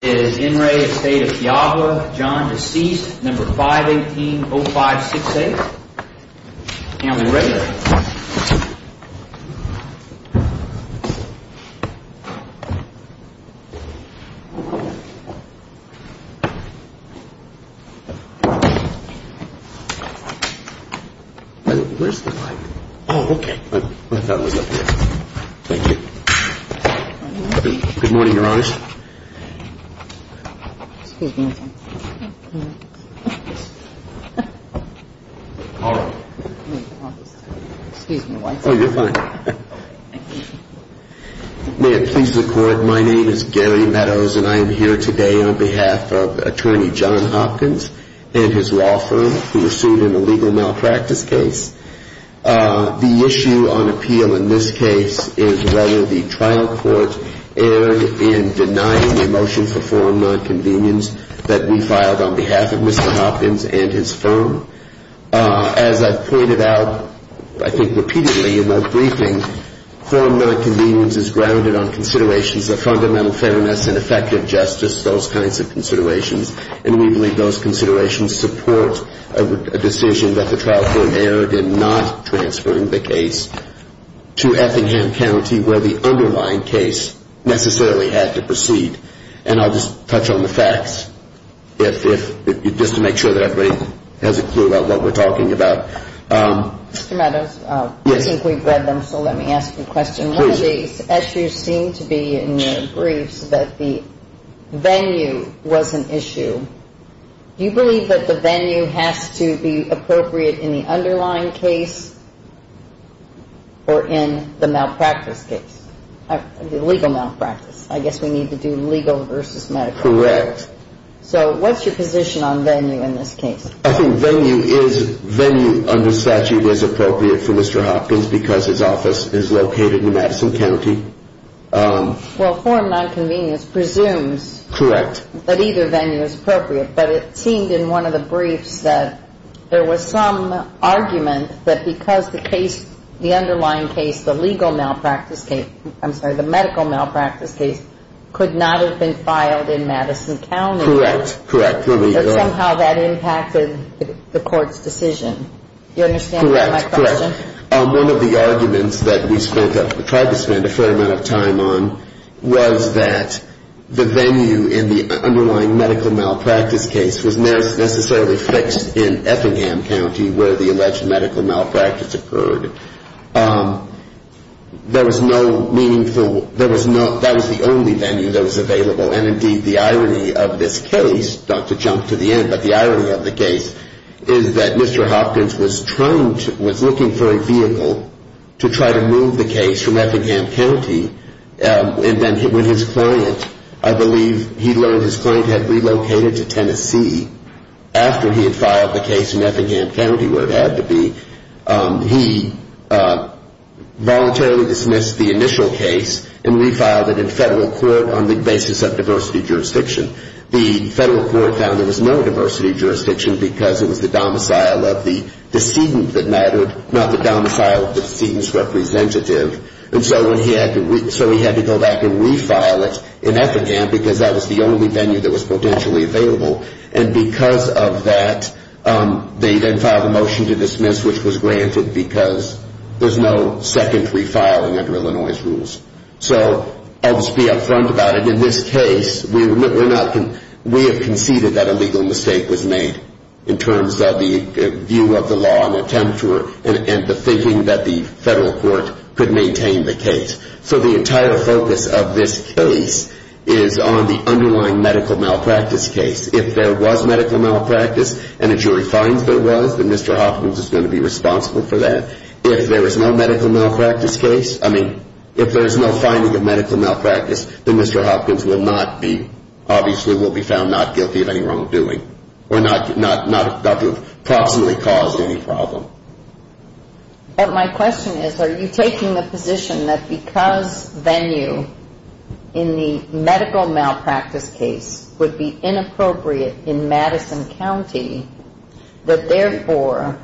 Is in re Estate of Kujawa, John, deceased, number 518-0568, family regular. Where's the light? Oh, okay. I thought it was up here. Thank you. Good morning, Your Honor. Excuse me one second. All right. Excuse me one second. Oh, you're fine. May it please the Court, my name is Gary Meadows, and I am here today on behalf of Attorney John Hopkins and his law firm who were sued in a legal malpractice case. The issue on appeal in this case is whether the trial court erred in denying a motion for forum nonconvenience that we filed on behalf of Mr. Hopkins and his firm. As I've pointed out, I think, repeatedly in our briefing, forum nonconvenience is grounded on considerations of fundamental fairness and effective justice, those kinds of considerations. And we believe those considerations support a decision that the trial court erred in not transferring the case to Effingham County, where the underlying case necessarily had to proceed. And I'll just touch on the facts, just to make sure that everybody has a clue about what we're talking about. Mr. Meadows, I think we've read them, so let me ask you a question. Please. In your case, as you seem to be in your briefs, that the venue was an issue. Do you believe that the venue has to be appropriate in the underlying case or in the malpractice case, the legal malpractice? I guess we need to do legal versus medical. Correct. So what's your position on venue in this case? I think venue under statute is appropriate for Mr. Hopkins because his office is located in Madison County. Well, forum nonconvenience presumes that either venue is appropriate. But it seemed in one of the briefs that there was some argument that because the underlying case, the medical malpractice case, could not have been filed in Madison County. Correct. But somehow that impacted the court's decision. Do you understand my question? Correct. One of the arguments that we tried to spend a fair amount of time on was that the venue in the underlying medical malpractice case was necessarily fixed in Effingham County where the alleged medical malpractice occurred. There was no meaningful – that was the only venue that was available. And, indeed, the irony of this case, not to jump to the end, but the irony of the case, is that Mr. Hopkins was trying to – was looking for a vehicle to try to move the case from Effingham County. And then when his client – I believe he learned his client had relocated to Tennessee after he had filed the case in Effingham County where it had to be, he voluntarily dismissed the initial case and refiled it in federal court on the basis of diversity jurisdiction. The federal court found there was no diversity jurisdiction because it was the domicile of the decedent that mattered, not the domicile of the decedent's representative. And so he had to go back and refile it in Effingham because that was the only venue that was potentially available. And because of that, they then filed a motion to dismiss, which was granted because there's no secondary filing under Illinois' rules. So I'll just be up front about it. In this case, we have conceded that a legal mistake was made in terms of the view of the law and the thinking that the federal court could maintain the case. So the entire focus of this case is on the underlying medical malpractice case. If there was medical malpractice and a jury finds there was, then Mr. Hopkins is going to be responsible for that. If there is no medical malpractice case – I mean, if there is no finding of medical malpractice, then Mr. Hopkins will not be – obviously will be found not guilty of any wrongdoing or not approximately caused any problem. But my question is, are you taking the position that because venue in the medical malpractice case would be inappropriate in Madison County, that therefore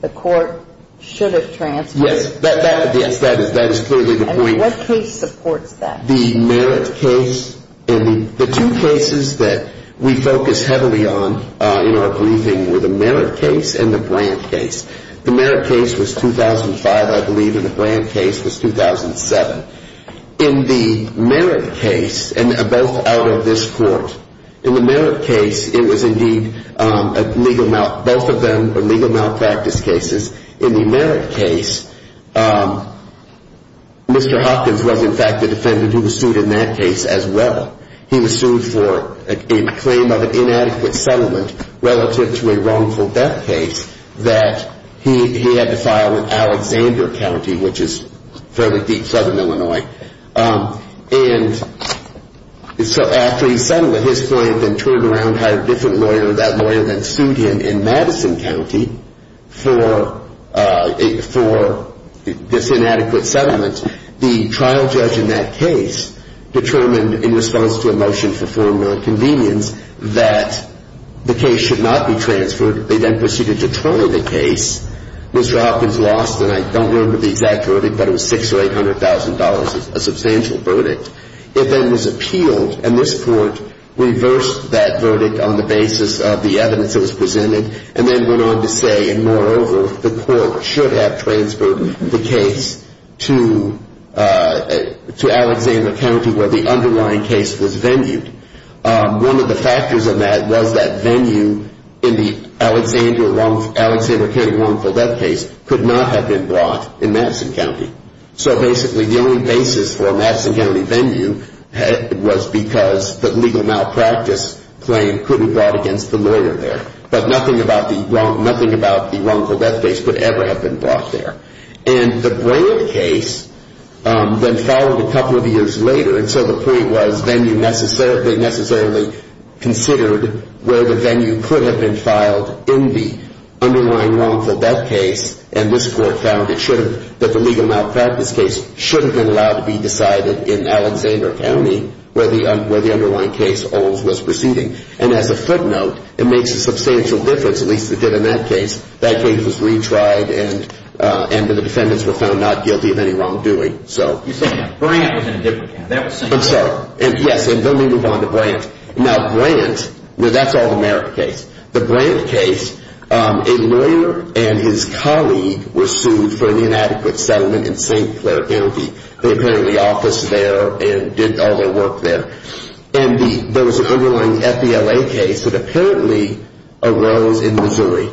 the court should have transferred? Yes, that is clearly the point. And what case supports that? The two cases that we focus heavily on in our briefing were the Merritt case and the Brandt case. The Merritt case was 2005, I believe, and the Brandt case was 2007. In the Merritt case – and both out of this court – in the Merritt case, it was indeed a legal – both of them were legal malpractice cases. In the Merritt case, Mr. Hopkins was, in fact, the defendant who was sued in that case as well. He was sued for a claim of an inadequate settlement relative to a wrongful death case that he had to file in Alexander County, which is fairly deep southern Illinois. And so after he settled at his point and turned around, hired a different lawyer. That lawyer then sued him in Madison County for this inadequate settlement. The trial judge in that case determined in response to a motion for formal convenience that the case should not be transferred. They then proceeded to try the case. Mr. Hopkins lost, and I don't remember the exact verdict, but it was $600,000 or $800,000, a substantial verdict. It then was appealed, and this court reversed that verdict on the basis of the evidence that was presented and then went on to say, and moreover, the court should have transferred the case to Alexander County, where the underlying case was venued. One of the factors of that was that venue in the Alexander County wrongful death case could not have been brought in Madison County. So basically the only basis for a Madison County venue was because the legal malpractice claim couldn't be brought against the lawyer there. But nothing about the wrongful death case could ever have been brought there. And the brand case then followed a couple of years later, and so the point was venue necessarily considered where the venue could have been filed in the underlying wrongful death case, and this court found that the legal malpractice case shouldn't have been allowed to be decided in Alexander County, where the underlying case was proceeding. And as a footnote, it makes a substantial difference, at least it did in that case. That case was retried, and the defendants were found not guilty of any wrongdoing. You said Brandt was in a different case. I'm sorry. Yes, and then we move on to Brandt. Now, Brandt, that's an All-America case. The Brandt case, a lawyer and his colleague were sued for the inadequate settlement in St. Clair County. They apparently officed there and did all their work there. And there was an underlying FBLA case that apparently arose in Missouri.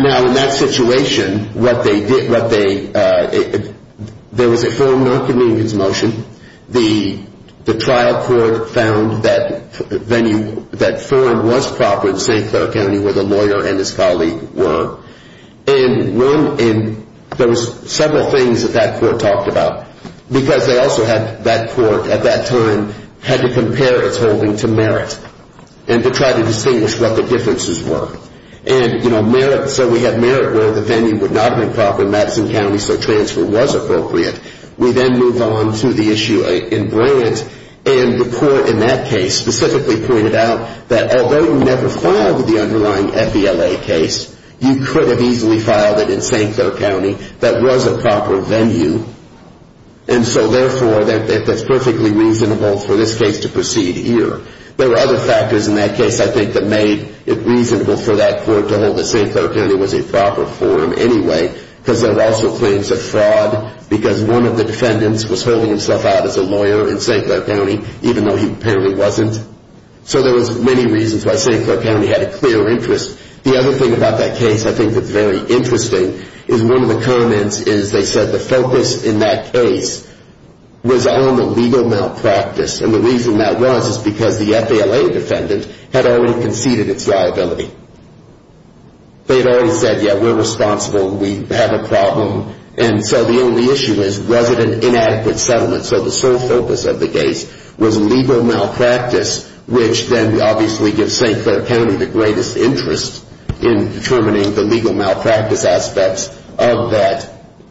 Now, in that situation, what they did, there was a foreign non-convenience motion. The trial court found that venue, that form was proper in St. Clair County, where the lawyer and his colleague were. And there was several things that that court talked about, because they also had that court at that time had to compare its holding to merit and to try to distinguish what the differences were. And, you know, so we had merit where the venue would not have been proper in Madison County, so transfer was appropriate. We then move on to the issue in Brandt. And the court in that case specifically pointed out that although you never filed the underlying FBLA case, you could have easily filed it in St. Clair County that was a proper venue. And so, therefore, that's perfectly reasonable for this case to proceed here. There were other factors in that case, I think, that made it reasonable for that court to hold that St. Clair County was a proper form anyway, because there were also claims of fraud, because one of the defendants was holding himself out as a lawyer in St. Clair County, even though he apparently wasn't. So there was many reasons why St. Clair County had a clear interest. The other thing about that case I think that's very interesting is one of the comments is they said the focus in that case was on the legal malpractice. And the reason that was is because the FBLA defendant had already conceded its liability. They had already said, yeah, we're responsible, we have a problem. And so the only issue is was it an inadequate settlement? So the sole focus of the case was legal malpractice, which then obviously gives St. Clair County the greatest interest in determining the legal malpractice aspects of that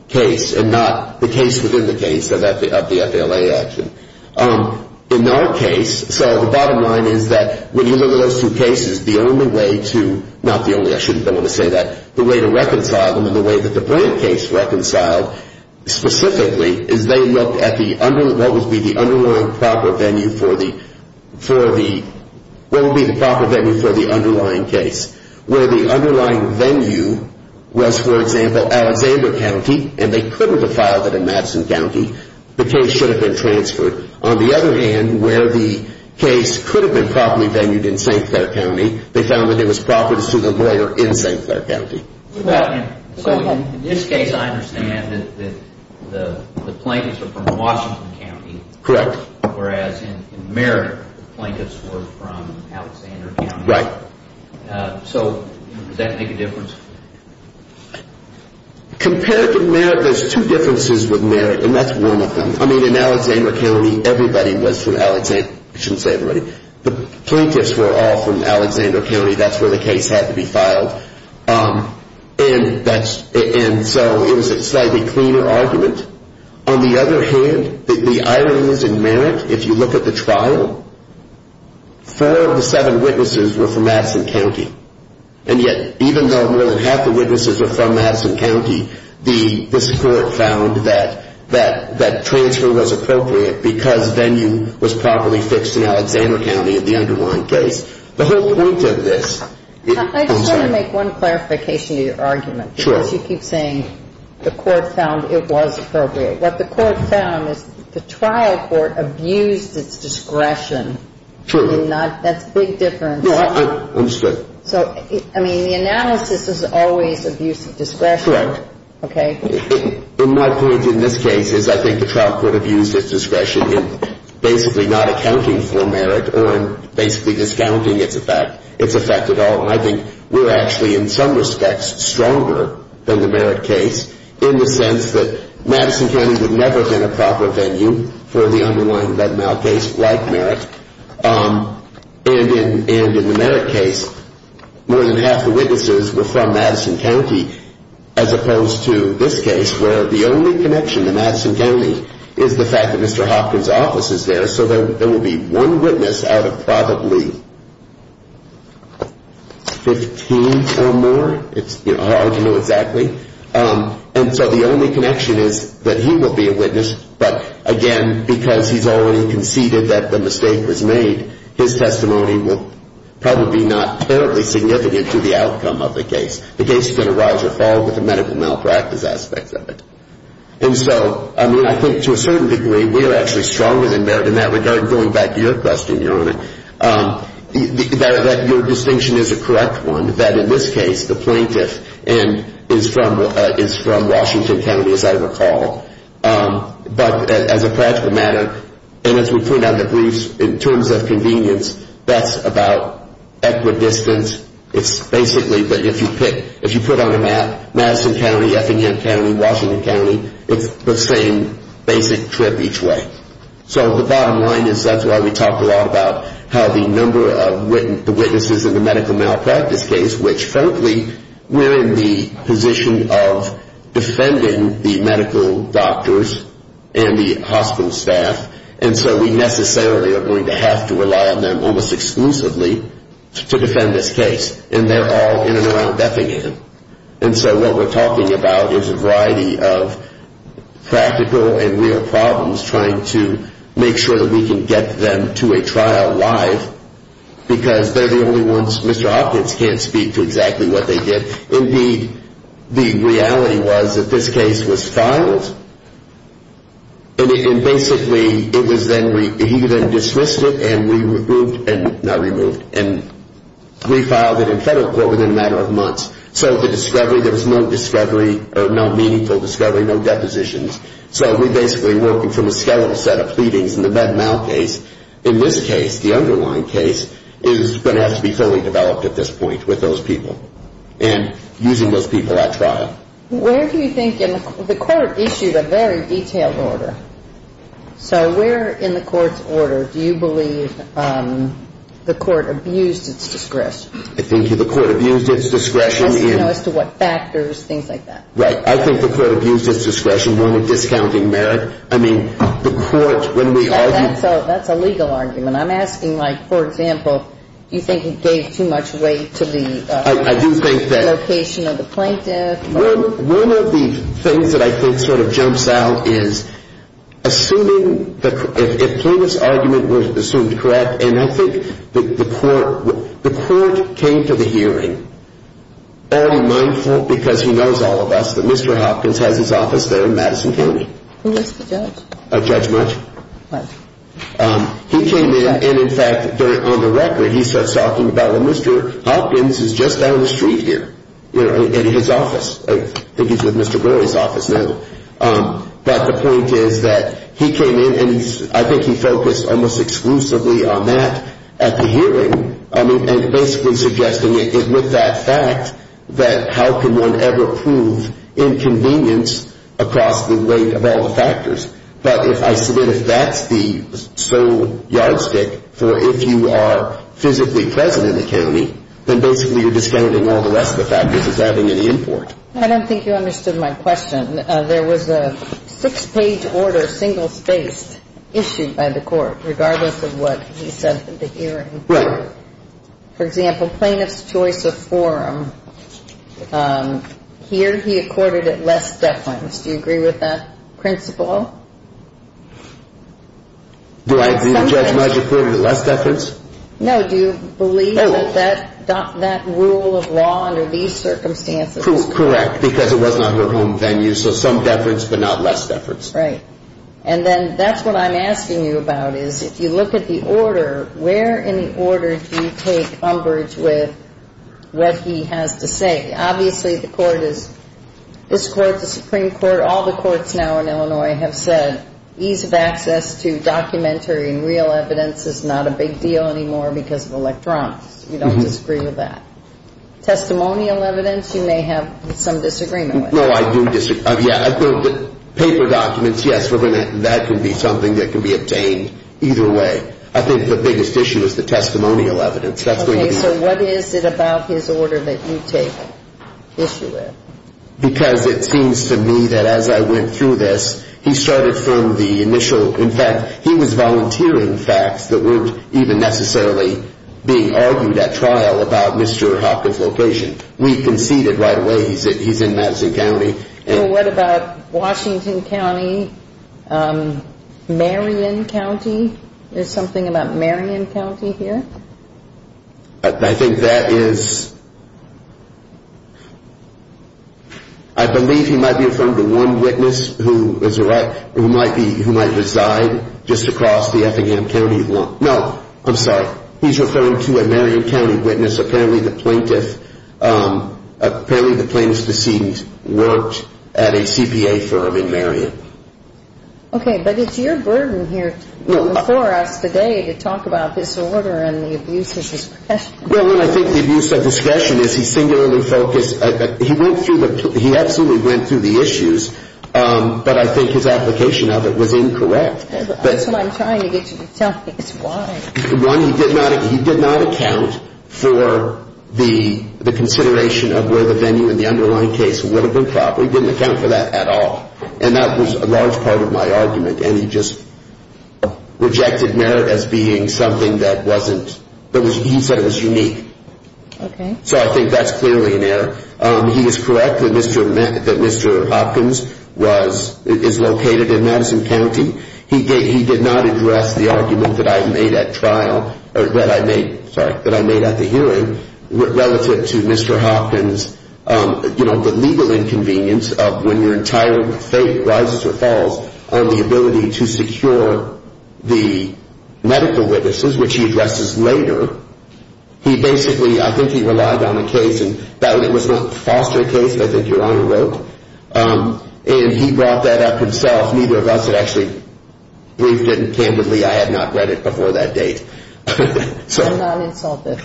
case and not the case within the case of the FBLA action. In our case, so the bottom line is that when you look at those two cases, the only way to, not the only, I shouldn't be able to say that, the way to reconcile them and the way that the Brandt case reconciled specifically is they looked at the, what would be the underlying proper venue for the, what would be the proper venue for the underlying case? Where the underlying venue was, for example, Alexander County, and they couldn't have filed it in Madison County, the case should have been transferred. On the other hand, where the case could have been properly venued in St. Clair County, they found that there was property to sue the lawyer in St. Clair County. So in this case, I understand that the plaintiffs are from Washington County. Correct. Whereas in Merritt, the plaintiffs were from Alexander County. Right. So does that make a difference? Compared to Merritt, there's two differences with Merritt, and that's one of them. I mean, in Alexander County, everybody was from Alexander, I shouldn't say everybody. The plaintiffs were all from Alexander County. That's where the case had to be filed. And that's, and so it was a slightly cleaner argument. On the other hand, the ironies in Merritt, if you look at the trial, four of the seven witnesses were from Madison County. And yet, even though more than half the witnesses were from Madison County, this court found that transfer was appropriate because venue was properly fixed in Alexander County in the underlying case. The whole point of this. I just want to make one clarification to your argument. Sure. Because you keep saying the court found it was appropriate. What the court found is the trial court abused its discretion. True. I mean, that's a big difference. No, I understood. So, I mean, the analysis is always abuse of discretion. Correct. Okay. And my point in this case is I think the trial court abused its discretion in basically not accounting for Merritt or in basically discounting its effect at all. And I think we're actually, in some respects, stronger than the Merritt case in the sense that Madison County would never have been a proper venue for the underlying Venmo case like Merritt. And in the Merritt case, more than half the witnesses were from Madison County as opposed to this case where the only connection to Madison County is the fact that Mr. Hopkins' office is there, so there will be one witness out of probably 15 or more. It's hard to know exactly. And so the only connection is that he will be a witness, but, again, because he's already conceded that the mistake was made, his testimony will probably be not terribly significant to the outcome of the case. The case is going to rise or fall with the medical malpractice aspects of it. And so, I mean, I think to a certain degree we are actually stronger than Merritt in that regard, going back to your question, Your Honor, that your distinction is a correct one, that in this case the plaintiff is from Washington County, as I recall. But as a practical matter, and as we point out in the briefs, in terms of convenience, that's about equidistance. It's basically that if you put on a map Madison County, Effingham County, Washington County, it's the same basic trip each way. So the bottom line is that's why we talked a lot about how the number of witnesses in the medical malpractice case, which, frankly, we're in the position of defending the medical doctors and the hospital staff, and so we necessarily are going to have to rely on them almost exclusively to defend this case. And they're all in and around Effingham. And so what we're talking about is a variety of practical and real problems, trying to make sure that we can get them to a trial live, because they're the only ones, Mr. Hopkins can't speak to exactly what they did. Indeed, the reality was that this case was filed, and basically it was then, he then dismissed it and we removed, not removed, and refiled it in federal court within a matter of months. So the discovery, there was no discovery, no meaningful discovery, no depositions. So we basically worked from a skeletal set of pleadings in the bad mouth case. In this case, the underlying case is going to have to be fully developed at this point with those people and using those people at trial. Where do you think, and the court issued a very detailed order. So where in the court's order do you believe the court abused its discretion? I think the court abused its discretion. As to what factors, things like that. Right. I think the court abused its discretion when we're discounting merit. That's a legal argument. I'm asking, like, for example, do you think it gave too much weight to the location of the plaintiff? I do think that one of the things that I think sort of jumps out is assuming, if Plinth's argument was assumed correct, and I think the court came to the hearing, because he knows all of us, that Mr. Hopkins has his office there in Madison County. Who was the judge? Judge Mutch. What? He came in, and in fact, on the record, he starts talking about, well, Mr. Hopkins is just down the street here in his office. I think he's with Mr. Brewery's office now. But the point is that he came in, and I think he focused almost exclusively on that at the hearing, and basically suggesting it with that fact that how can one ever prove inconvenience across the weight of all the factors. But I submit if that's the sole yardstick for if you are physically present in the county, then basically you're discounting all the rest of the factors as having any import. I don't think you understood my question. There was a six-page order, single-spaced, issued by the court, regardless of what he said at the hearing. Right. For example, plaintiff's choice of forum. Here he accorded it less deference. Do you agree with that principle? Do I agree that Judge Mutch accorded it less deference? No. Do you believe that that rule of law under these circumstances? Correct, because it was not her home venue, so some deference but not less deference. Right. And then that's what I'm asking you about is if you look at the order, where in the order do you take umbrage with what he has to say? Obviously the court is, this court, the Supreme Court, all the courts now in Illinois have said ease of access to documentary and real evidence is not a big deal anymore because of electronics. We don't disagree with that. Testimonial evidence you may have some disagreement with. No, I do disagree. Paper documents, yes, that can be something that can be obtained either way. I think the biggest issue is the testimonial evidence. Okay, so what is it about his order that you take issue with? Because it seems to me that as I went through this, he started from the initial, in fact, he was volunteering facts that weren't even necessarily being argued at trial about Mr. Hopkins' location. We conceded right away he's in Madison County. And what about Washington County, Marion County? There's something about Marion County here? I think that is, I believe he might be referring to one witness who might reside just across the Effingham County. No, I'm sorry, he's referring to a Marion County witness, apparently the plaintiff, apparently the plaintiff's deceit worked at a CPA firm in Marion. Okay, but it's your burden here before us today to talk about this order and the abuse of discretion. Well, I think the abuse of discretion is he singularly focused, he absolutely went through the issues, but I think his application of it was incorrect. That's what I'm trying to get you to tell me is why. One, he did not account for the consideration of where the venue in the underlying case would have been properly, he didn't account for that at all, and that was a large part of my argument, and he just rejected merit as being something that wasn't, he said it was unique. Okay. So I think that's clearly an error. He is correct that Mr. Hopkins is located in Madison County. He did not address the argument that I made at trial, or that I made, sorry, that I made at the hearing relative to Mr. Hopkins, you know, the legal inconvenience of when your entire faith rises or falls on the ability to secure the medical witnesses, which he addresses later, he basically, I think he relied on a case, and that was not a foster case, I think Your Honor wrote, and he brought that up himself. Neither of us had actually briefed him candidly. I had not read it before that date. I'm not insulted.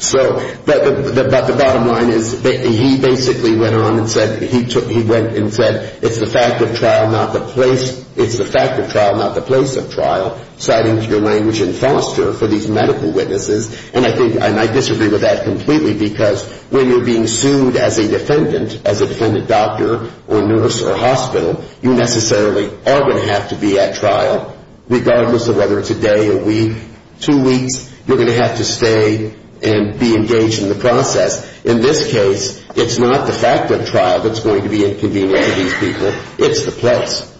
So, but the bottom line is he basically went on and said, he went and said, it's the fact of trial, not the place of trial, citing your language in foster for these medical witnesses, and I think, and I disagree with that completely, because when you're being sued as a defendant, as a defendant doctor or nurse or hospital, you necessarily are going to have to be at trial, regardless of whether it's a day, a week, two weeks, you're going to have to stay and be engaged in the process. In this case, it's not the fact of trial that's going to be inconvenient to these people, it's the place.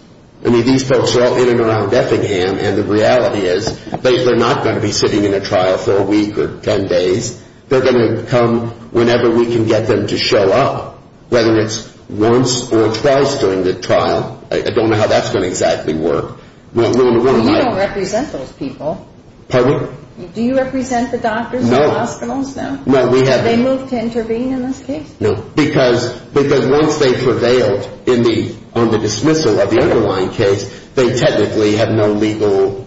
I mean, these folks are all in and around Effingham, and the reality is they're not going to be sitting in a trial for a week or ten days. They're going to come whenever we can get them to show up, whether it's once or twice during the trial. I don't know how that's going to exactly work. Well, you don't represent those people. Pardon me? Do you represent the doctors and hospitals? No. Have they moved to intervene in this case? No, because once they prevailed on the dismissal of the underlying case, they technically have no legal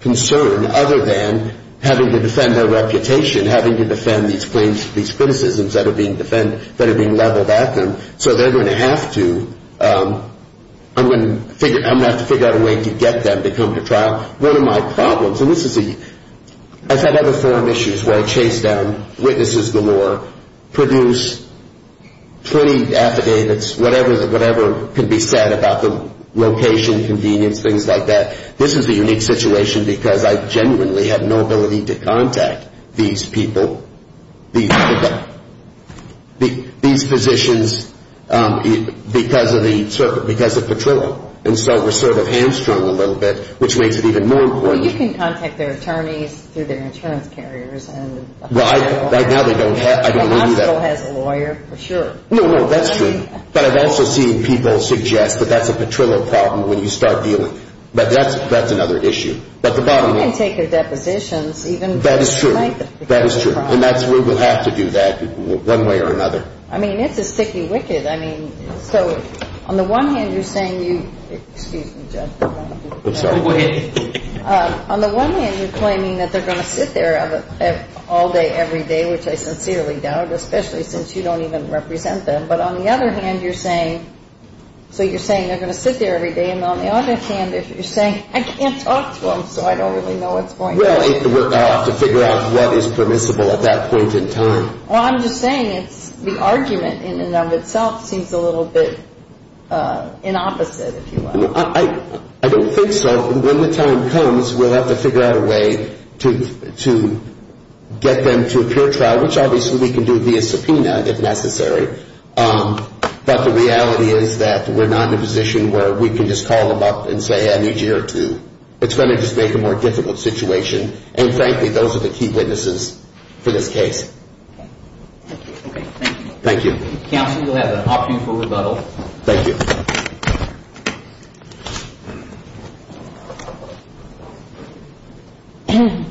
concern other than having to defend their reputation, having to defend these claims, these criticisms that are being leveled at them. So they're going to have to, I'm going to have to figure out a way to get them to come to trial. One of my problems, and this is a, I've had other forum issues where I chase down witnesses galore, produce plenty of affidavits, whatever can be said about the location, convenience, things like that. This is a unique situation because I genuinely have no ability to contact these people, these physicians, because of the, because of Petrillo. And so we're sort of hamstrung a little bit, which makes it even more important. Well, you can contact their attorneys through their insurance carriers. Right. Right now they don't have, I don't believe that. The hospital has a lawyer for sure. No, no, that's true. But I've also seen people suggest that that's a Petrillo problem when you start dealing. But that's another issue. But the bottom line. You can take their depositions even for the length of the case. That is true. That is true. And that's where we'll have to do that one way or another. I mean, it's a sticky wicket. I mean, so on the one hand, you're saying you, excuse me, Judge. I'm sorry. Go ahead. On the one hand, you're claiming that they're going to sit there all day every day, which I sincerely doubt, especially since you don't even represent them. But on the other hand, you're saying, so you're saying they're going to sit there every day. And on the other hand, you're saying, I can't talk to them, so I don't really know what's going on. Well, I'll have to figure out what is permissible at that point in time. Well, I'm just saying it's the argument in and of itself seems a little bit inopposite, if you will. I don't think so. When the time comes, we'll have to figure out a way to get them to a peer trial, which obviously we can do via subpoena if necessary. But the reality is that we're not in a position where we can just call them up and say, I need you here too. It's going to just make a more difficult situation. And frankly, those are the key witnesses for this case. Okay. Thank you. Thank you. Counsel, you'll have an option for rebuttal. Thank you. Thank you.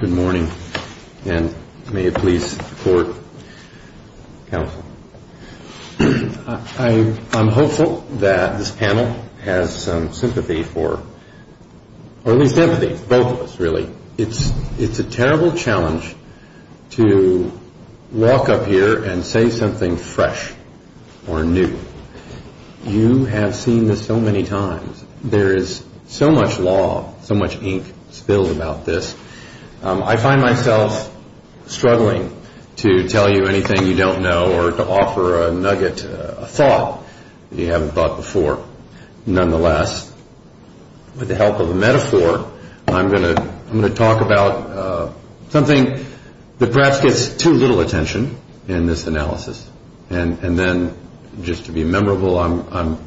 Good morning. And may it please the Court, counsel, I'm hopeful that this panel has some sympathy for, or at least empathy for both of us, really. It's a terrible challenge to walk up here and say something fresh or new. You have seen this so many times. There is so much law, so much ink spilled about this. I find myself struggling to tell you anything you don't know or to offer a nugget, a thought that you haven't thought before. Nonetheless, with the help of a metaphor, I'm going to talk about something that perhaps gets too little attention in this analysis. And then, just to be memorable, I'm,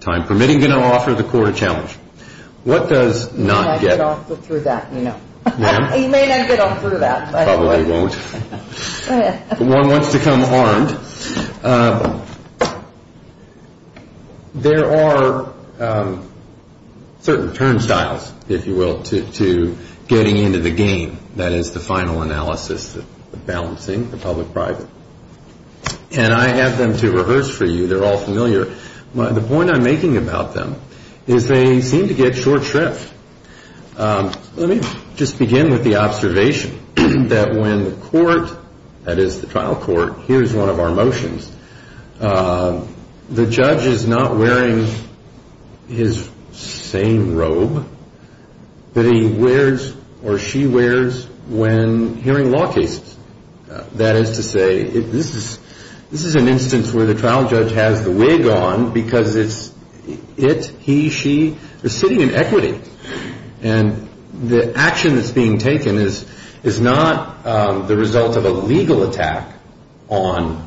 time permitting, going to offer the Court a challenge. What does not get... You may not get through that, you know. You may not get through that. Probably won't. One wants to come armed. There are certain turnstiles, if you will, to getting into the game. That is the final analysis, the balancing, the public-private. And I have them to reverse for you. They're all familiar. The point I'm making about them is they seem to get short shrift. Let me just begin with the observation that when the Court, that is the trial court, hears one of our motions, the judge is not wearing his sane robe that he wears or she wears when hearing law cases. That is to say, this is an instance where the trial judge has the wig on because it's it, he, she. They're sitting in equity. And the action that's being taken is not the result of a legal attack on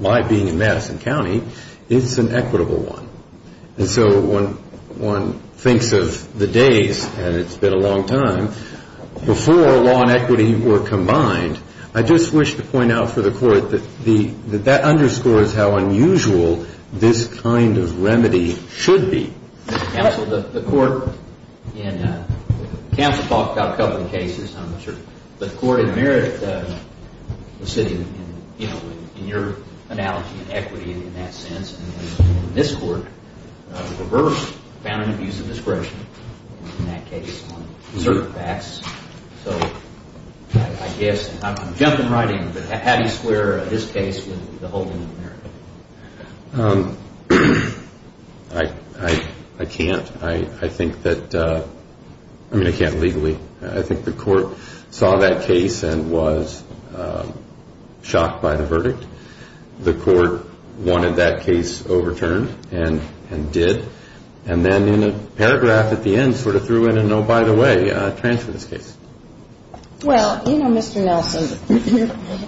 my being in Madison County. It's an equitable one. And so when one thinks of the days, and it's been a long time, before law and equity were combined, I just wish to point out for the Court that that underscores how unusual this kind of remedy should be. Counsel, the Court in, Counsel talked about a couple of cases, I'm not sure, but the Court in Merritt was sitting in, you know, in your analogy, in equity in that sense. And this Court reversed, found an abuse of discretion in that case on certain facts. So I guess, I'm jumping right in, but how do you square this case with the whole in Merritt? I can't. I think that, I mean, I can't legally. I think the Court saw that case and was shocked by the verdict. The Court wanted that case overturned and did. And then in a paragraph at the end sort of threw in an, oh, by the way, transfer this case. Well, you know, Mr. Nelson,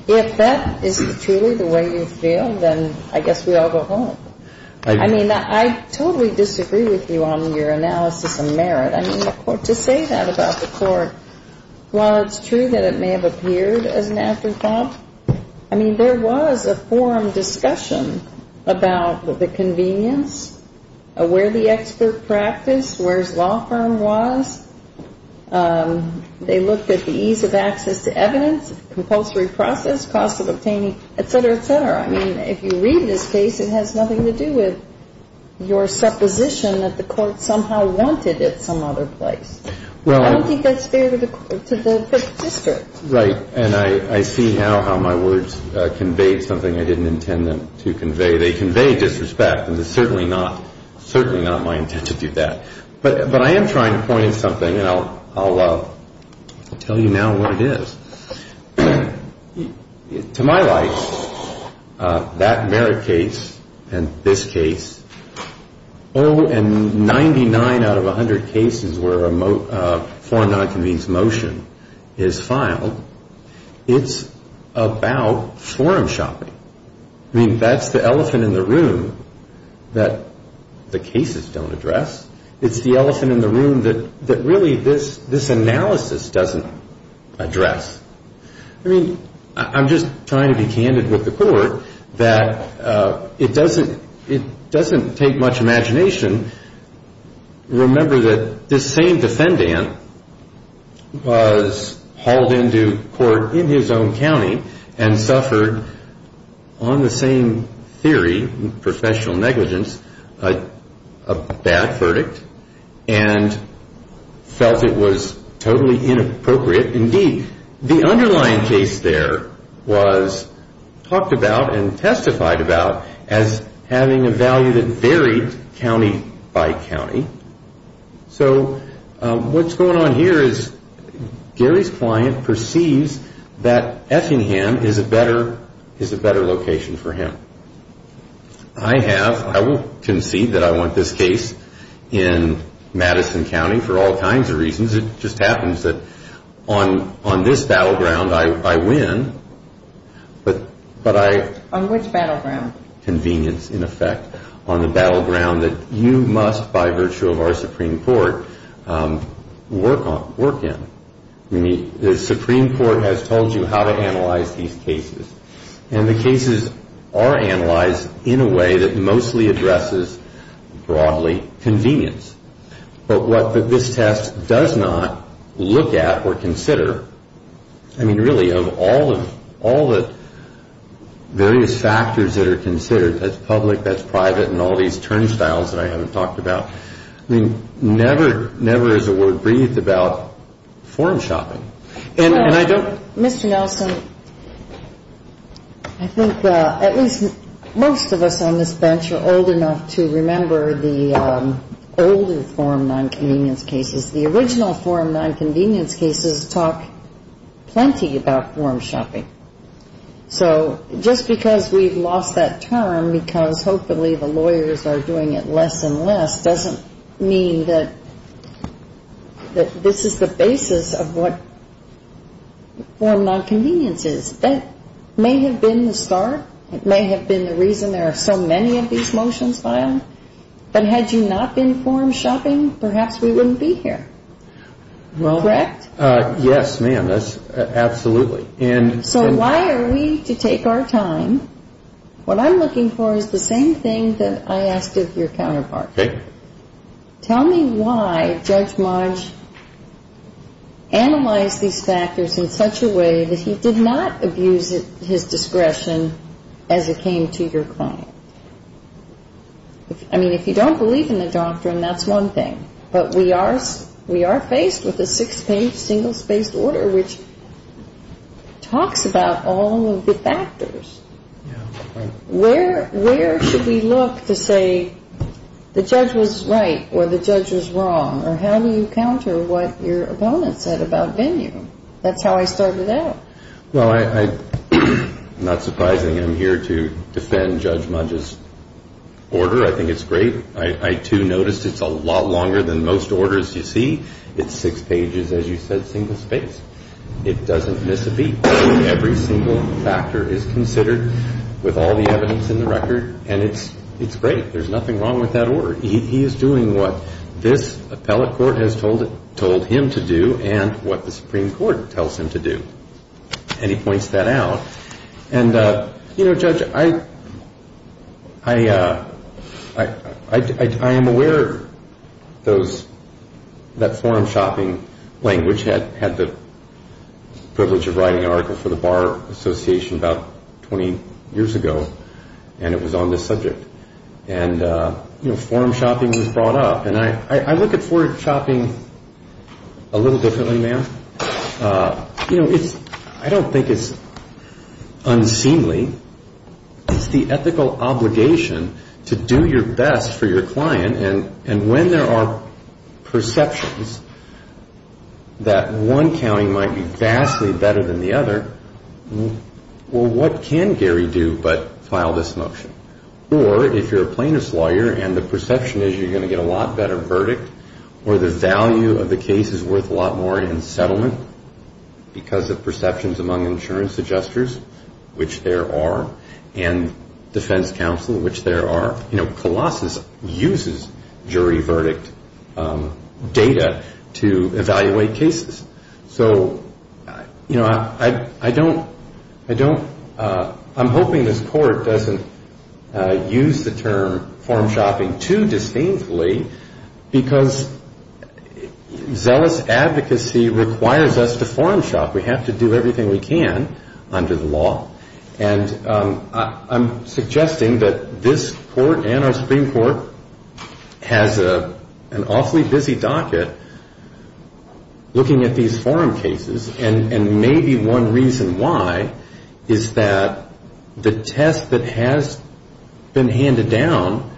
if that is truly the way you feel, then I guess we all go home. I mean, I totally disagree with you on your analysis of Merritt. I mean, to say that about the Court, while it's true that it may have appeared as an afterthought, I mean, there was a forum discussion about the convenience, where the expert practice, where his law firm was. They looked at the ease of access to evidence, compulsory process, cost of obtaining, et cetera, et cetera. I mean, if you read this case, it has nothing to do with your supposition that the Court somehow wanted it some other place. I don't think that's fair to the district. Right, and I see now how my words conveyed something I didn't intend them to convey. They convey disrespect, and it's certainly not my intent to do that. But I am trying to point out something, and I'll tell you now what it is. To my light, that Merritt case and this case, oh, and 99 out of 100 cases where a forum nonconvenience motion is filed, it's about forum shopping. I mean, that's the elephant in the room that the cases don't address. It's the elephant in the room that really this analysis doesn't address. I mean, I'm just trying to be candid with the Court that it doesn't take much imagination. Remember that this same defendant was hauled into court in his own county and suffered on the same theory, professional negligence, a bad verdict, and felt it was totally inappropriate. Indeed, the underlying case there was talked about and testified about as having a value that varied county by county. So what's going on here is Gary's client perceives that Effingham is a better location for him. I have, I will concede that I want this case in Madison County for all kinds of reasons. It just happens that on this battleground, I win. On which battleground? Convenience, in effect, on the battleground that you must, by virtue of our Supreme Court, work in. The Supreme Court has told you how to analyze these cases. And the cases are analyzed in a way that mostly addresses, broadly, convenience. But what this test does not look at or consider, I mean, really, of all the various factors that are considered, that's public, that's private, and all these turnstiles that I haven't talked about, I mean, never is a word breathed about form shopping. And I don't Mr. Nelson, I think at least most of us on this bench are old enough to remember the older form nonconvenience cases. The original form nonconvenience cases talk plenty about form shopping. So just because we've lost that term because hopefully the lawyers are doing it less and less doesn't mean that this is the basis of what form nonconvenience is. That may have been the start. It may have been the reason there are so many of these motions filed. But had you not been form shopping, perhaps we wouldn't be here. Correct? Yes, ma'am. Absolutely. So why are we to take our time? What I'm looking for is the same thing that I asked of your counterpart. Okay. Tell me why Judge Modge analyzed these factors in such a way that he did not abuse his discretion as it came to your client. I mean, if you don't believe in the doctrine, that's one thing. But we are faced with a six-page, single-spaced order which talks about all of the factors. Where should we look to say the judge was right or the judge was wrong? Or how do you counter what your opponent said about venue? That's how I started out. Well, not surprisingly, I'm here to defend Judge Modge's order. I think it's great. I, too, noticed it's a lot longer than most orders you see. It's six pages, as you said, single-spaced. It doesn't miss a beat. Every single factor is considered with all the evidence in the record, and it's great. There's nothing wrong with that order. He is doing what this appellate court has told him to do and what the Supreme Court tells him to do. And he points that out. And, you know, Judge, I am aware that forum shopping language had the privilege of writing an article for the Bar Association about 20 years ago, and it was on this subject. And, you know, forum shopping was brought up. And I look at forum shopping a little differently, ma'am. You know, I don't think it's unseemly. It's the ethical obligation to do your best for your client. And when there are perceptions that one county might be vastly better than the other, well, what can Gary do but file this motion? Or if you're a plaintiff's lawyer and the perception is you're going to get a lot better verdict or the value of the case is worth a lot more in settlement because of perceptions among insurance adjusters, which there are, and defense counsel, which there are. You know, Colossus uses jury verdict data to evaluate cases. So, you know, I don't ‑‑ I don't ‑‑ I'm hoping this court doesn't use the term forum shopping too disdainfully because zealous advocacy requires us to forum shop. We have to do everything we can under the law. And I'm suggesting that this court and our Supreme Court has an awfully busy docket looking at these forum cases. And maybe one reason why is that the test that has been handed down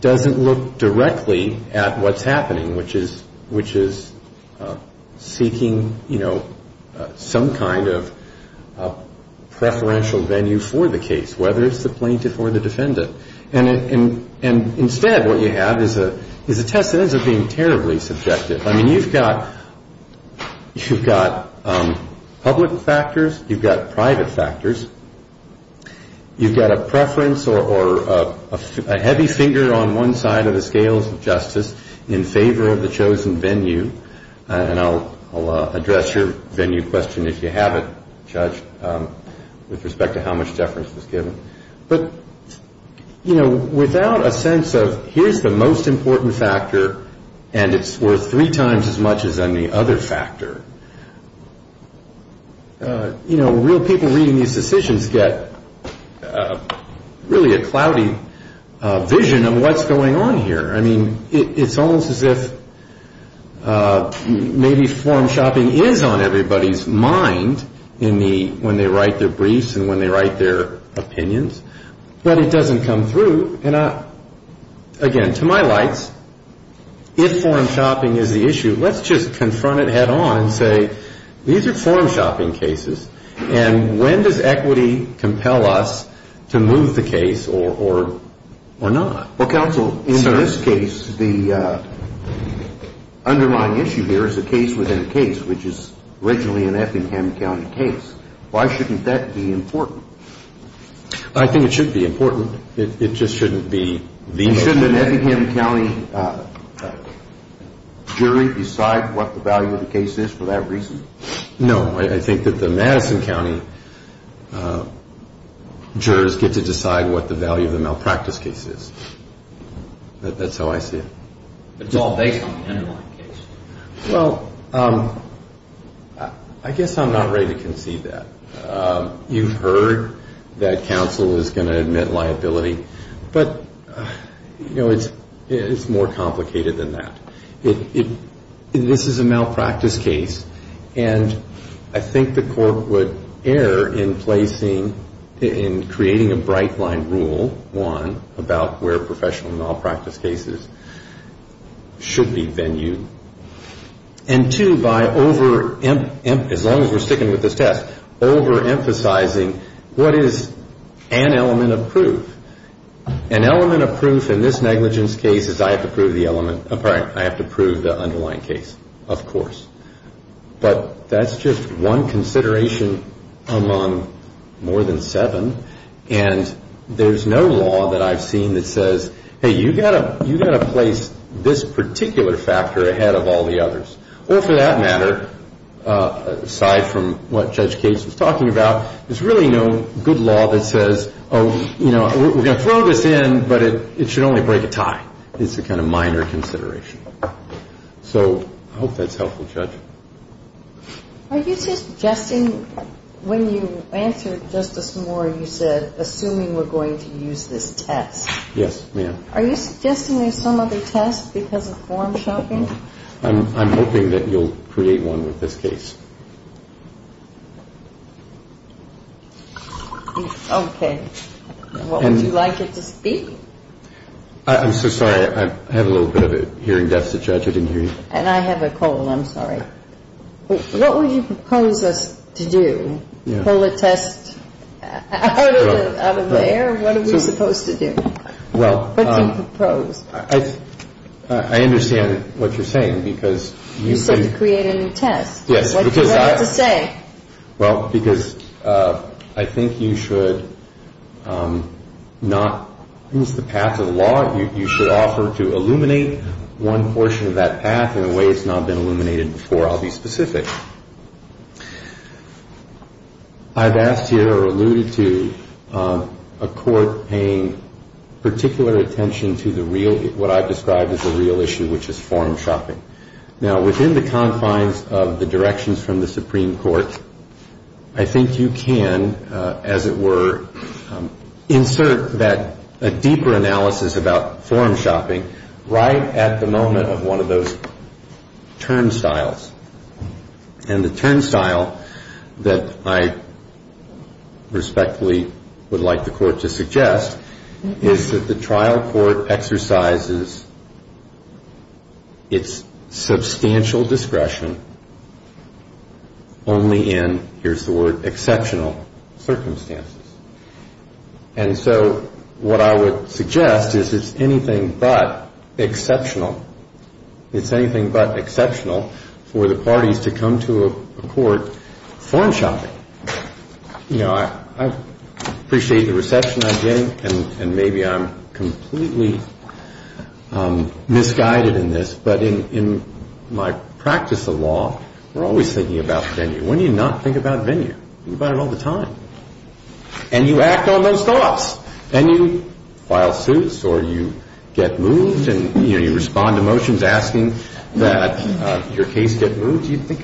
doesn't look directly at what's happening, which is seeking, you know, some kind of preferential venue for the case, whether it's the plaintiff or the defendant. And instead what you have is a test that ends up being terribly subjective. I mean, you've got public factors. You've got private factors. You've got a preference or a heavy finger on one side of the scales of justice in favor of the chosen venue. And I'll address your venue question if you have it, Judge, with respect to how much deference was given. But, you know, without a sense of here's the most important factor and it's worth three times as much as any other factor. You know, real people reading these decisions get really a cloudy vision of what's going on here. I mean, it's almost as if maybe forum shopping is on everybody's mind when they write their briefs and when they write their opinions. But it doesn't come through. And, again, to my likes, if forum shopping is the issue, let's just confront it head on and say, these are forum shopping cases and when does equity compel us to move the case or not? Well, counsel, in this case, the underlying issue here is the case within a case, which is originally an Effingham County case. Why shouldn't that be important? I think it should be important. It just shouldn't be the issue. Shouldn't an Effingham County jury decide what the value of the case is for that reason? No, I think that the Madison County jurors get to decide what the value of the malpractice case is. That's how I see it. But it's all based on the underlying case. Well, I guess I'm not ready to concede that. You've heard that counsel is going to admit liability. But, you know, it's more complicated than that. This is a malpractice case, and I think the court would err in placing, in creating a bright line rule, one, about where professional malpractice cases should be venued, and two, as long as we're sticking with this test, overemphasizing what is an element of proof. An element of proof in this negligence case is I have to prove the underlying case, of course. But that's just one consideration among more than seven, and there's no law that I've seen that says, hey, you've got to place this particular factor ahead of all the others. Or for that matter, aside from what Judge Gates was talking about, there's really no good law that says, oh, you know, we're going to throw this in, but it should only break a tie. It's a kind of minor consideration. So I hope that's helpful, Judge. Are you suggesting when you answered Justice Moore, you said assuming we're going to use this test? Yes, ma'am. Are you suggesting there's some other test because of form shopping? I'm hoping that you'll create one with this case. Okay. What would you like it to be? I'm so sorry. I have a little bit of a hearing deficit, Judge. I didn't hear you. And I have a cold. I'm sorry. What would you propose us to do? Pull a test out of the air? What are we supposed to do? What do you propose? I understand what you're saying because you can... You said to create a new test. Yes. What's it say? Well, because I think you should not lose the path of the law. You should offer to illuminate one portion of that path in a way it's not been illuminated before. I'll be specific. I've asked here or alluded to a court paying particular attention to what I've described as a real issue, which is form shopping. Now, within the confines of the directions from the Supreme Court, I think you can, as it were, insert a deeper analysis about form shopping right at the moment of one of those turnstiles. And the turnstile that I respectfully would like the court to suggest is that the trial court exercises its substantial discretion only in, here's the word, exceptional circumstances. And so what I would suggest is it's anything but exceptional. It's anything but exceptional for the parties to come to a court form shopping. You know, I appreciate the reception I'm getting, and maybe I'm completely misguided in this, but in my practice of law, we're always thinking about venue. When do you not think about venue? You think about it all the time. And you act on those thoughts. Then you file suits or you get moved and, you know, you respond to motions asking that your case get moved. You think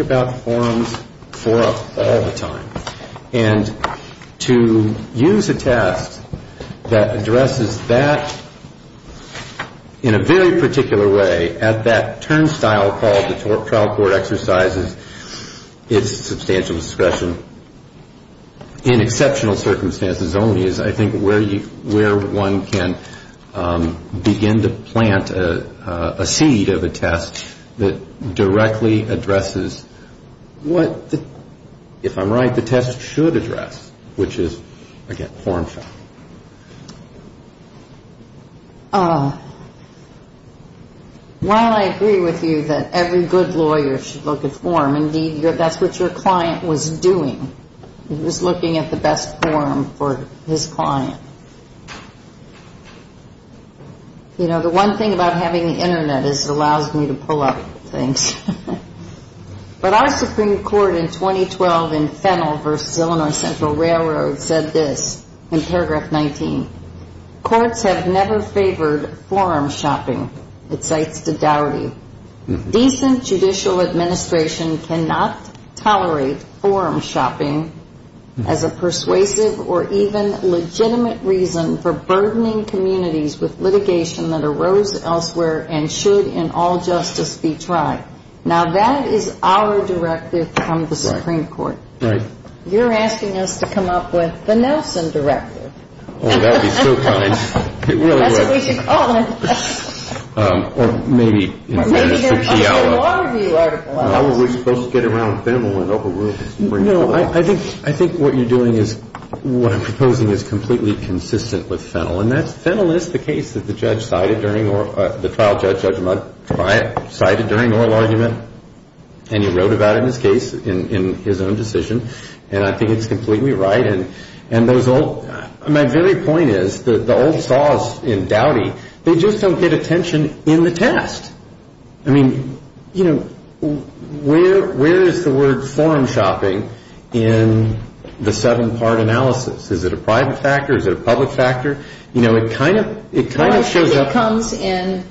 about forums all the time. And to use a task that addresses that in a very particular way at that turnstile called the trial court exercises its substantial discretion in exceptional circumstances only is, I think, where one can begin to plant a seed of a test that directly addresses what, if I'm right, the test should address, which is, again, form shopping. While I agree with you that every good lawyer should look at form, indeed, that's what your client was doing. He was looking at the best form for his client. You know, the one thing about having the Internet is it allows me to pull up things. But our Supreme Court in 2012 in Fennell v. Illinois Central Railroad said this in paragraph 19. Courts have never favored form shopping, it cites Daudi. Decent judicial administration cannot tolerate form shopping as a persuasive or even legitimate reason for burdening communities with litigation that arose elsewhere and should in all justice be tried. Now, that is our directive from the Supreme Court. You're asking us to come up with the Nelson directive. Oh, that would be so kind. That's what we should call it. Or maybe. Maybe there's a Waterview article on it. How are we supposed to get around Fennell and overrule the Supreme Court? No, I think what you're doing is, what I'm proposing is completely consistent with Fennell. And Fennell is the case that the trial judge, Judge Mudd, cited during oral argument. And he wrote about it in his case in his own decision. And I think it's completely right. And my very point is the old saws in Daudi, they just don't get attention in the test. I mean, you know, where is the word form shopping in the seven-part analysis? Is it a private factor? Is it a public factor? You know, it kind of shows up. It comes in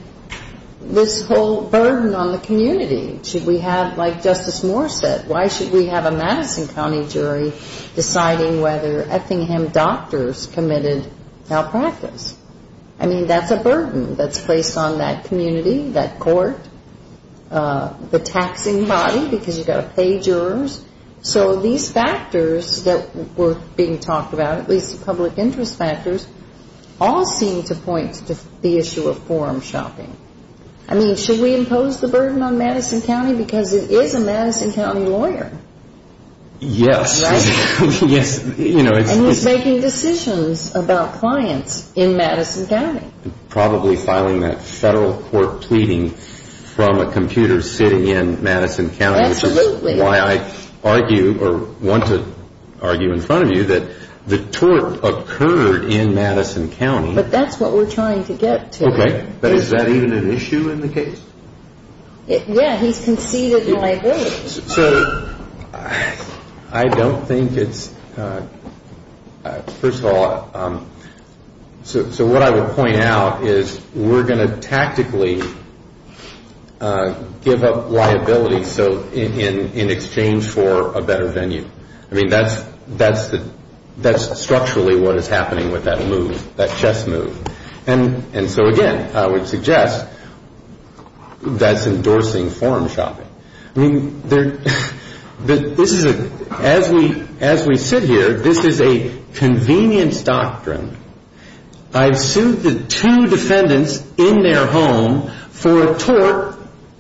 this whole burden on the community. Should we have, like Justice Moore said, why should we have a Madison County jury deciding whether Effingham doctors committed malpractice? I mean, that's a burden that's placed on that community, that court, the taxing body, because you've got to pay jurors. So these factors that were being talked about, at least public interest factors, all seem to point to the issue of form shopping. I mean, should we impose the burden on Madison County because it is a Madison County lawyer? Yes. Right? Yes. And he's making decisions about clients in Madison County. Probably filing that federal court pleading from a computer sitting in Madison County. Absolutely. Which is why I argue or want to argue in front of you that the tort occurred in Madison County. But that's what we're trying to get to. Okay. But is that even an issue in the case? Yeah, he's conceded my vote. So I don't think it's – first of all, so what I would point out is we're going to tactically give up liability in exchange for a better venue. I mean, that's structurally what is happening with that move, that chess move. And so, again, I would suggest that's endorsing form shopping. I mean, this is a – as we sit here, this is a convenience doctrine. I've sued the two defendants in their home for a tort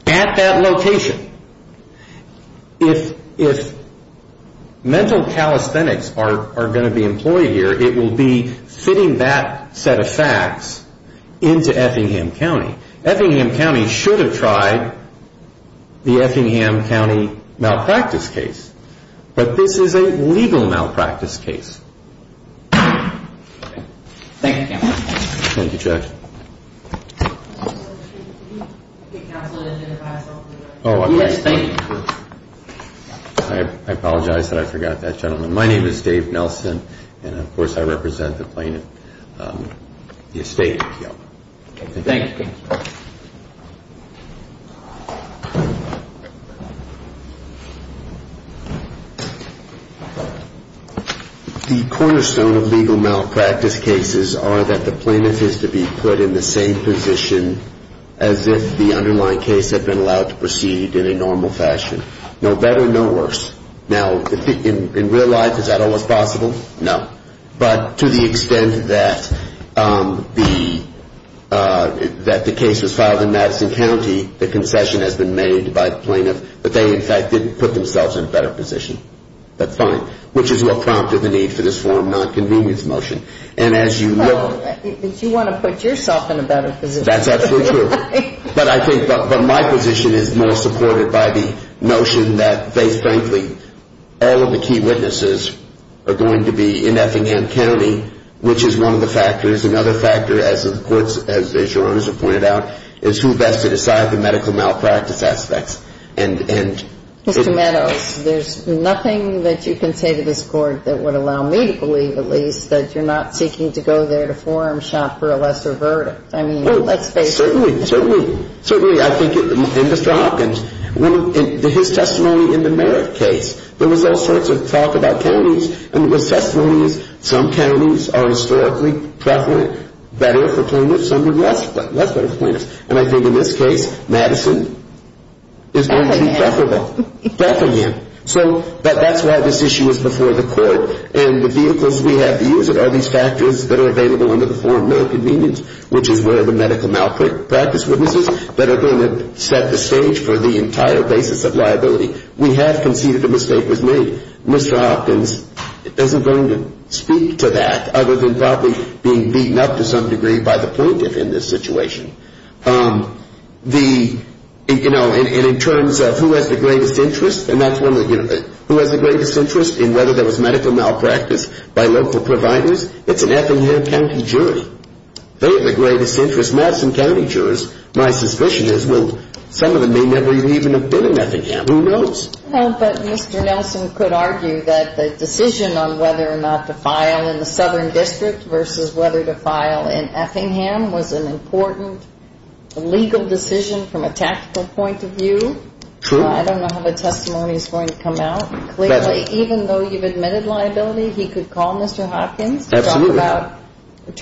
at that location. If mental calisthenics are going to be employed here, it will be fitting that set of facts into Effingham County. Effingham County should have tried the Effingham County malpractice case. But this is a legal malpractice case. Thank you, Counselor. Thank you, Judge. Counselor, did you have something to add? Yes, thank you. I apologize that I forgot that, gentlemen. My name is Dave Nelson. And, of course, I represent the plaintiff, the estate appeal. Thank you, Counselor. The cornerstone of legal malpractice cases are that the plaintiff is to be put in the same position as if the underlying case had been allowed to proceed in a normal fashion. No better, no worse. Now, in real life, is that always possible? No. But to the extent that the case was filed in Madison County, the concession has been made by the plaintiff that they, in fact, did put themselves in a better position. That's fine. Which is what prompted the need for this form of nonconvenience motion. And as you look... Well, you want to put yourself in a better position. That's absolutely true. I agree with you. All of the key witnesses are going to be in Effingham County, which is one of the factors. Another factor, as your Honor has pointed out, is who best to decide the medical malpractice aspects. Mr. Meadows, there's nothing that you can say to this Court that would allow me to believe, at least, that you're not seeking to go there to forearm shop for a lesser verdict. I mean, let's face it. Certainly, certainly. Certainly, I think, and Mr. Hopkins, in his testimony in the Merritt case, there was all sorts of talk about counties. And the testimony is some counties are historically preferable, better for plaintiffs, some are less better for plaintiffs. And I think in this case, Madison is going to be preferable. Effingham. Effingham. So that's why this issue is before the Court. And the vehicles we have to use it are these factors that are available under the Foreign Merit Convenience, which is where the medical malpractice witnesses that are going to set the stage for the entire basis of liability. We have conceded a mistake was made. Mr. Hopkins isn't going to speak to that other than probably being beaten up to some degree by the plaintiff in this situation. The, you know, and in terms of who has the greatest interest, and that's one of the, you know, who has the greatest interest in whether there was medical malpractice by local providers, it's an Effingham County jury. They have the greatest interest, Madison County jurors. My suspicion is, well, some of them may never even have been in Effingham. Who knows? Well, but Mr. Nelson could argue that the decision on whether or not to file in the Southern District versus whether to file in Effingham was an important legal decision from a tactical point of view. True. I don't know how the testimony is going to come out. Clearly, even though you've admitted liability, he could call Mr. Hopkins. Absolutely. And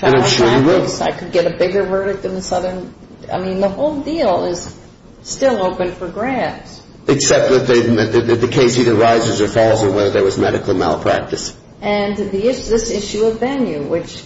I'm sure he will. I could get a bigger verdict than the Southern. I mean, the whole deal is still open for grabs. Except that the case either rises or falls on whether there was medical malpractice. And this issue of venue, which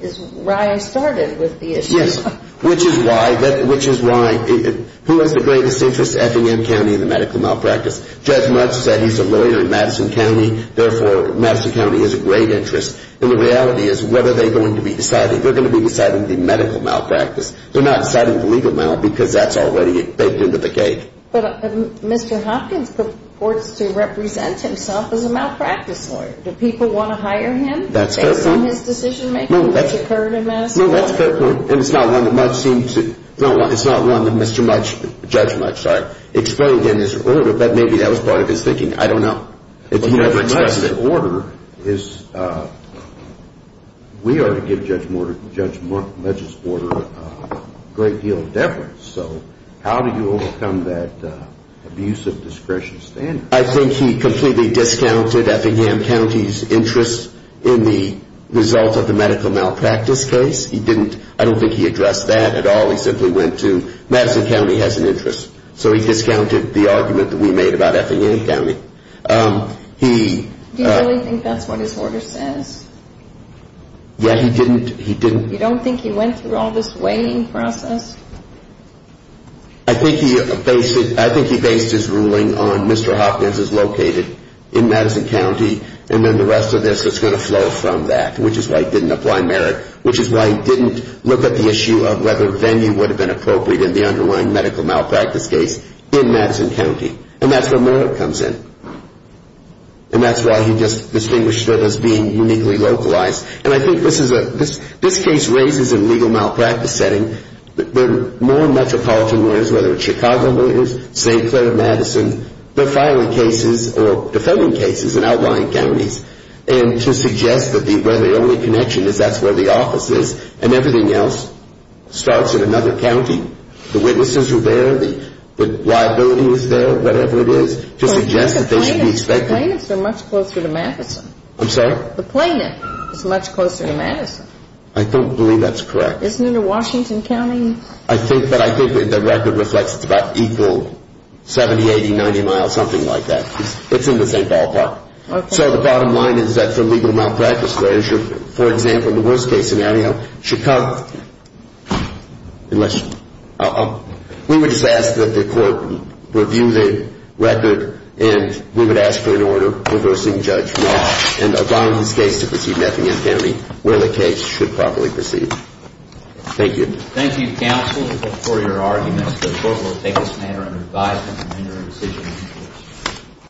is where I started with the issue. Yes, which is why, which is why, who has the greatest interest? Effingham County and the medical malpractice. Judge Mutz said he's a lawyer in Madison County. Therefore, Madison County has a great interest. And the reality is, what are they going to be deciding? They're going to be deciding the medical malpractice. They're not deciding the legal malpractice because that's already baked into the cake. But Mr. Hopkins purports to represent himself as a malpractice lawyer. Do people want to hire him? That's a fair point. Based on his decision making, which occurred in Madison County. No, that's a fair point. And it's not one that Mutz seems to, it's not one that Mr. Mutz, Judge Mutz, sorry, explained in his order, but maybe that was part of his thinking. I don't know. Judge Mutz's order is, we are to give Judge Mutz's order a great deal of deference. So how do you overcome that abuse of discretionary standards? I think he completely discounted Effingham County's interest in the result of the medical malpractice case. He didn't, I don't think he addressed that at all. He simply went to Madison County has an interest. So he discounted the argument that we made about Effingham County. Do you really think that's what his order says? Yeah, he didn't. You don't think he went through all this weighing process? I think he based his ruling on Mr. Hopkins is located in Madison County, and then the rest of this is going to flow from that, which is why he didn't apply merit, which is why he didn't look at the issue of whether venue would have been appropriate in the underlying medical malpractice case in Madison County. And that's where merit comes in. And that's why he just distinguished it as being uniquely localized. And I think this case raises a legal malpractice setting where more metropolitan lawyers, whether it's Chicago lawyers, St. Clair of Madison, they're filing cases or defending cases in outlying counties, and to suggest that the only connection is that's where the office is and everything else starts in another county. The witnesses are there. The liability is there, whatever it is, to suggest that they should be expected. The plaintiffs are much closer to Madison. I'm sorry? The plaintiff is much closer to Madison. I don't believe that's correct. Isn't it in Washington County? I think that the record reflects it's about equal, 70, 80, 90 miles, something like that. It's in the same ballpark. So the bottom line is that for legal malpractice lawyers, for example, in the worst-case scenario, Chicago unless we would just ask that the court review the record and we would ask for an order reversing judgment and allowing this case to proceed in effing infinity where the case should probably proceed. Thank you. Thank you, counsel, for your arguments. The court will take this matter under advisement and render a decision.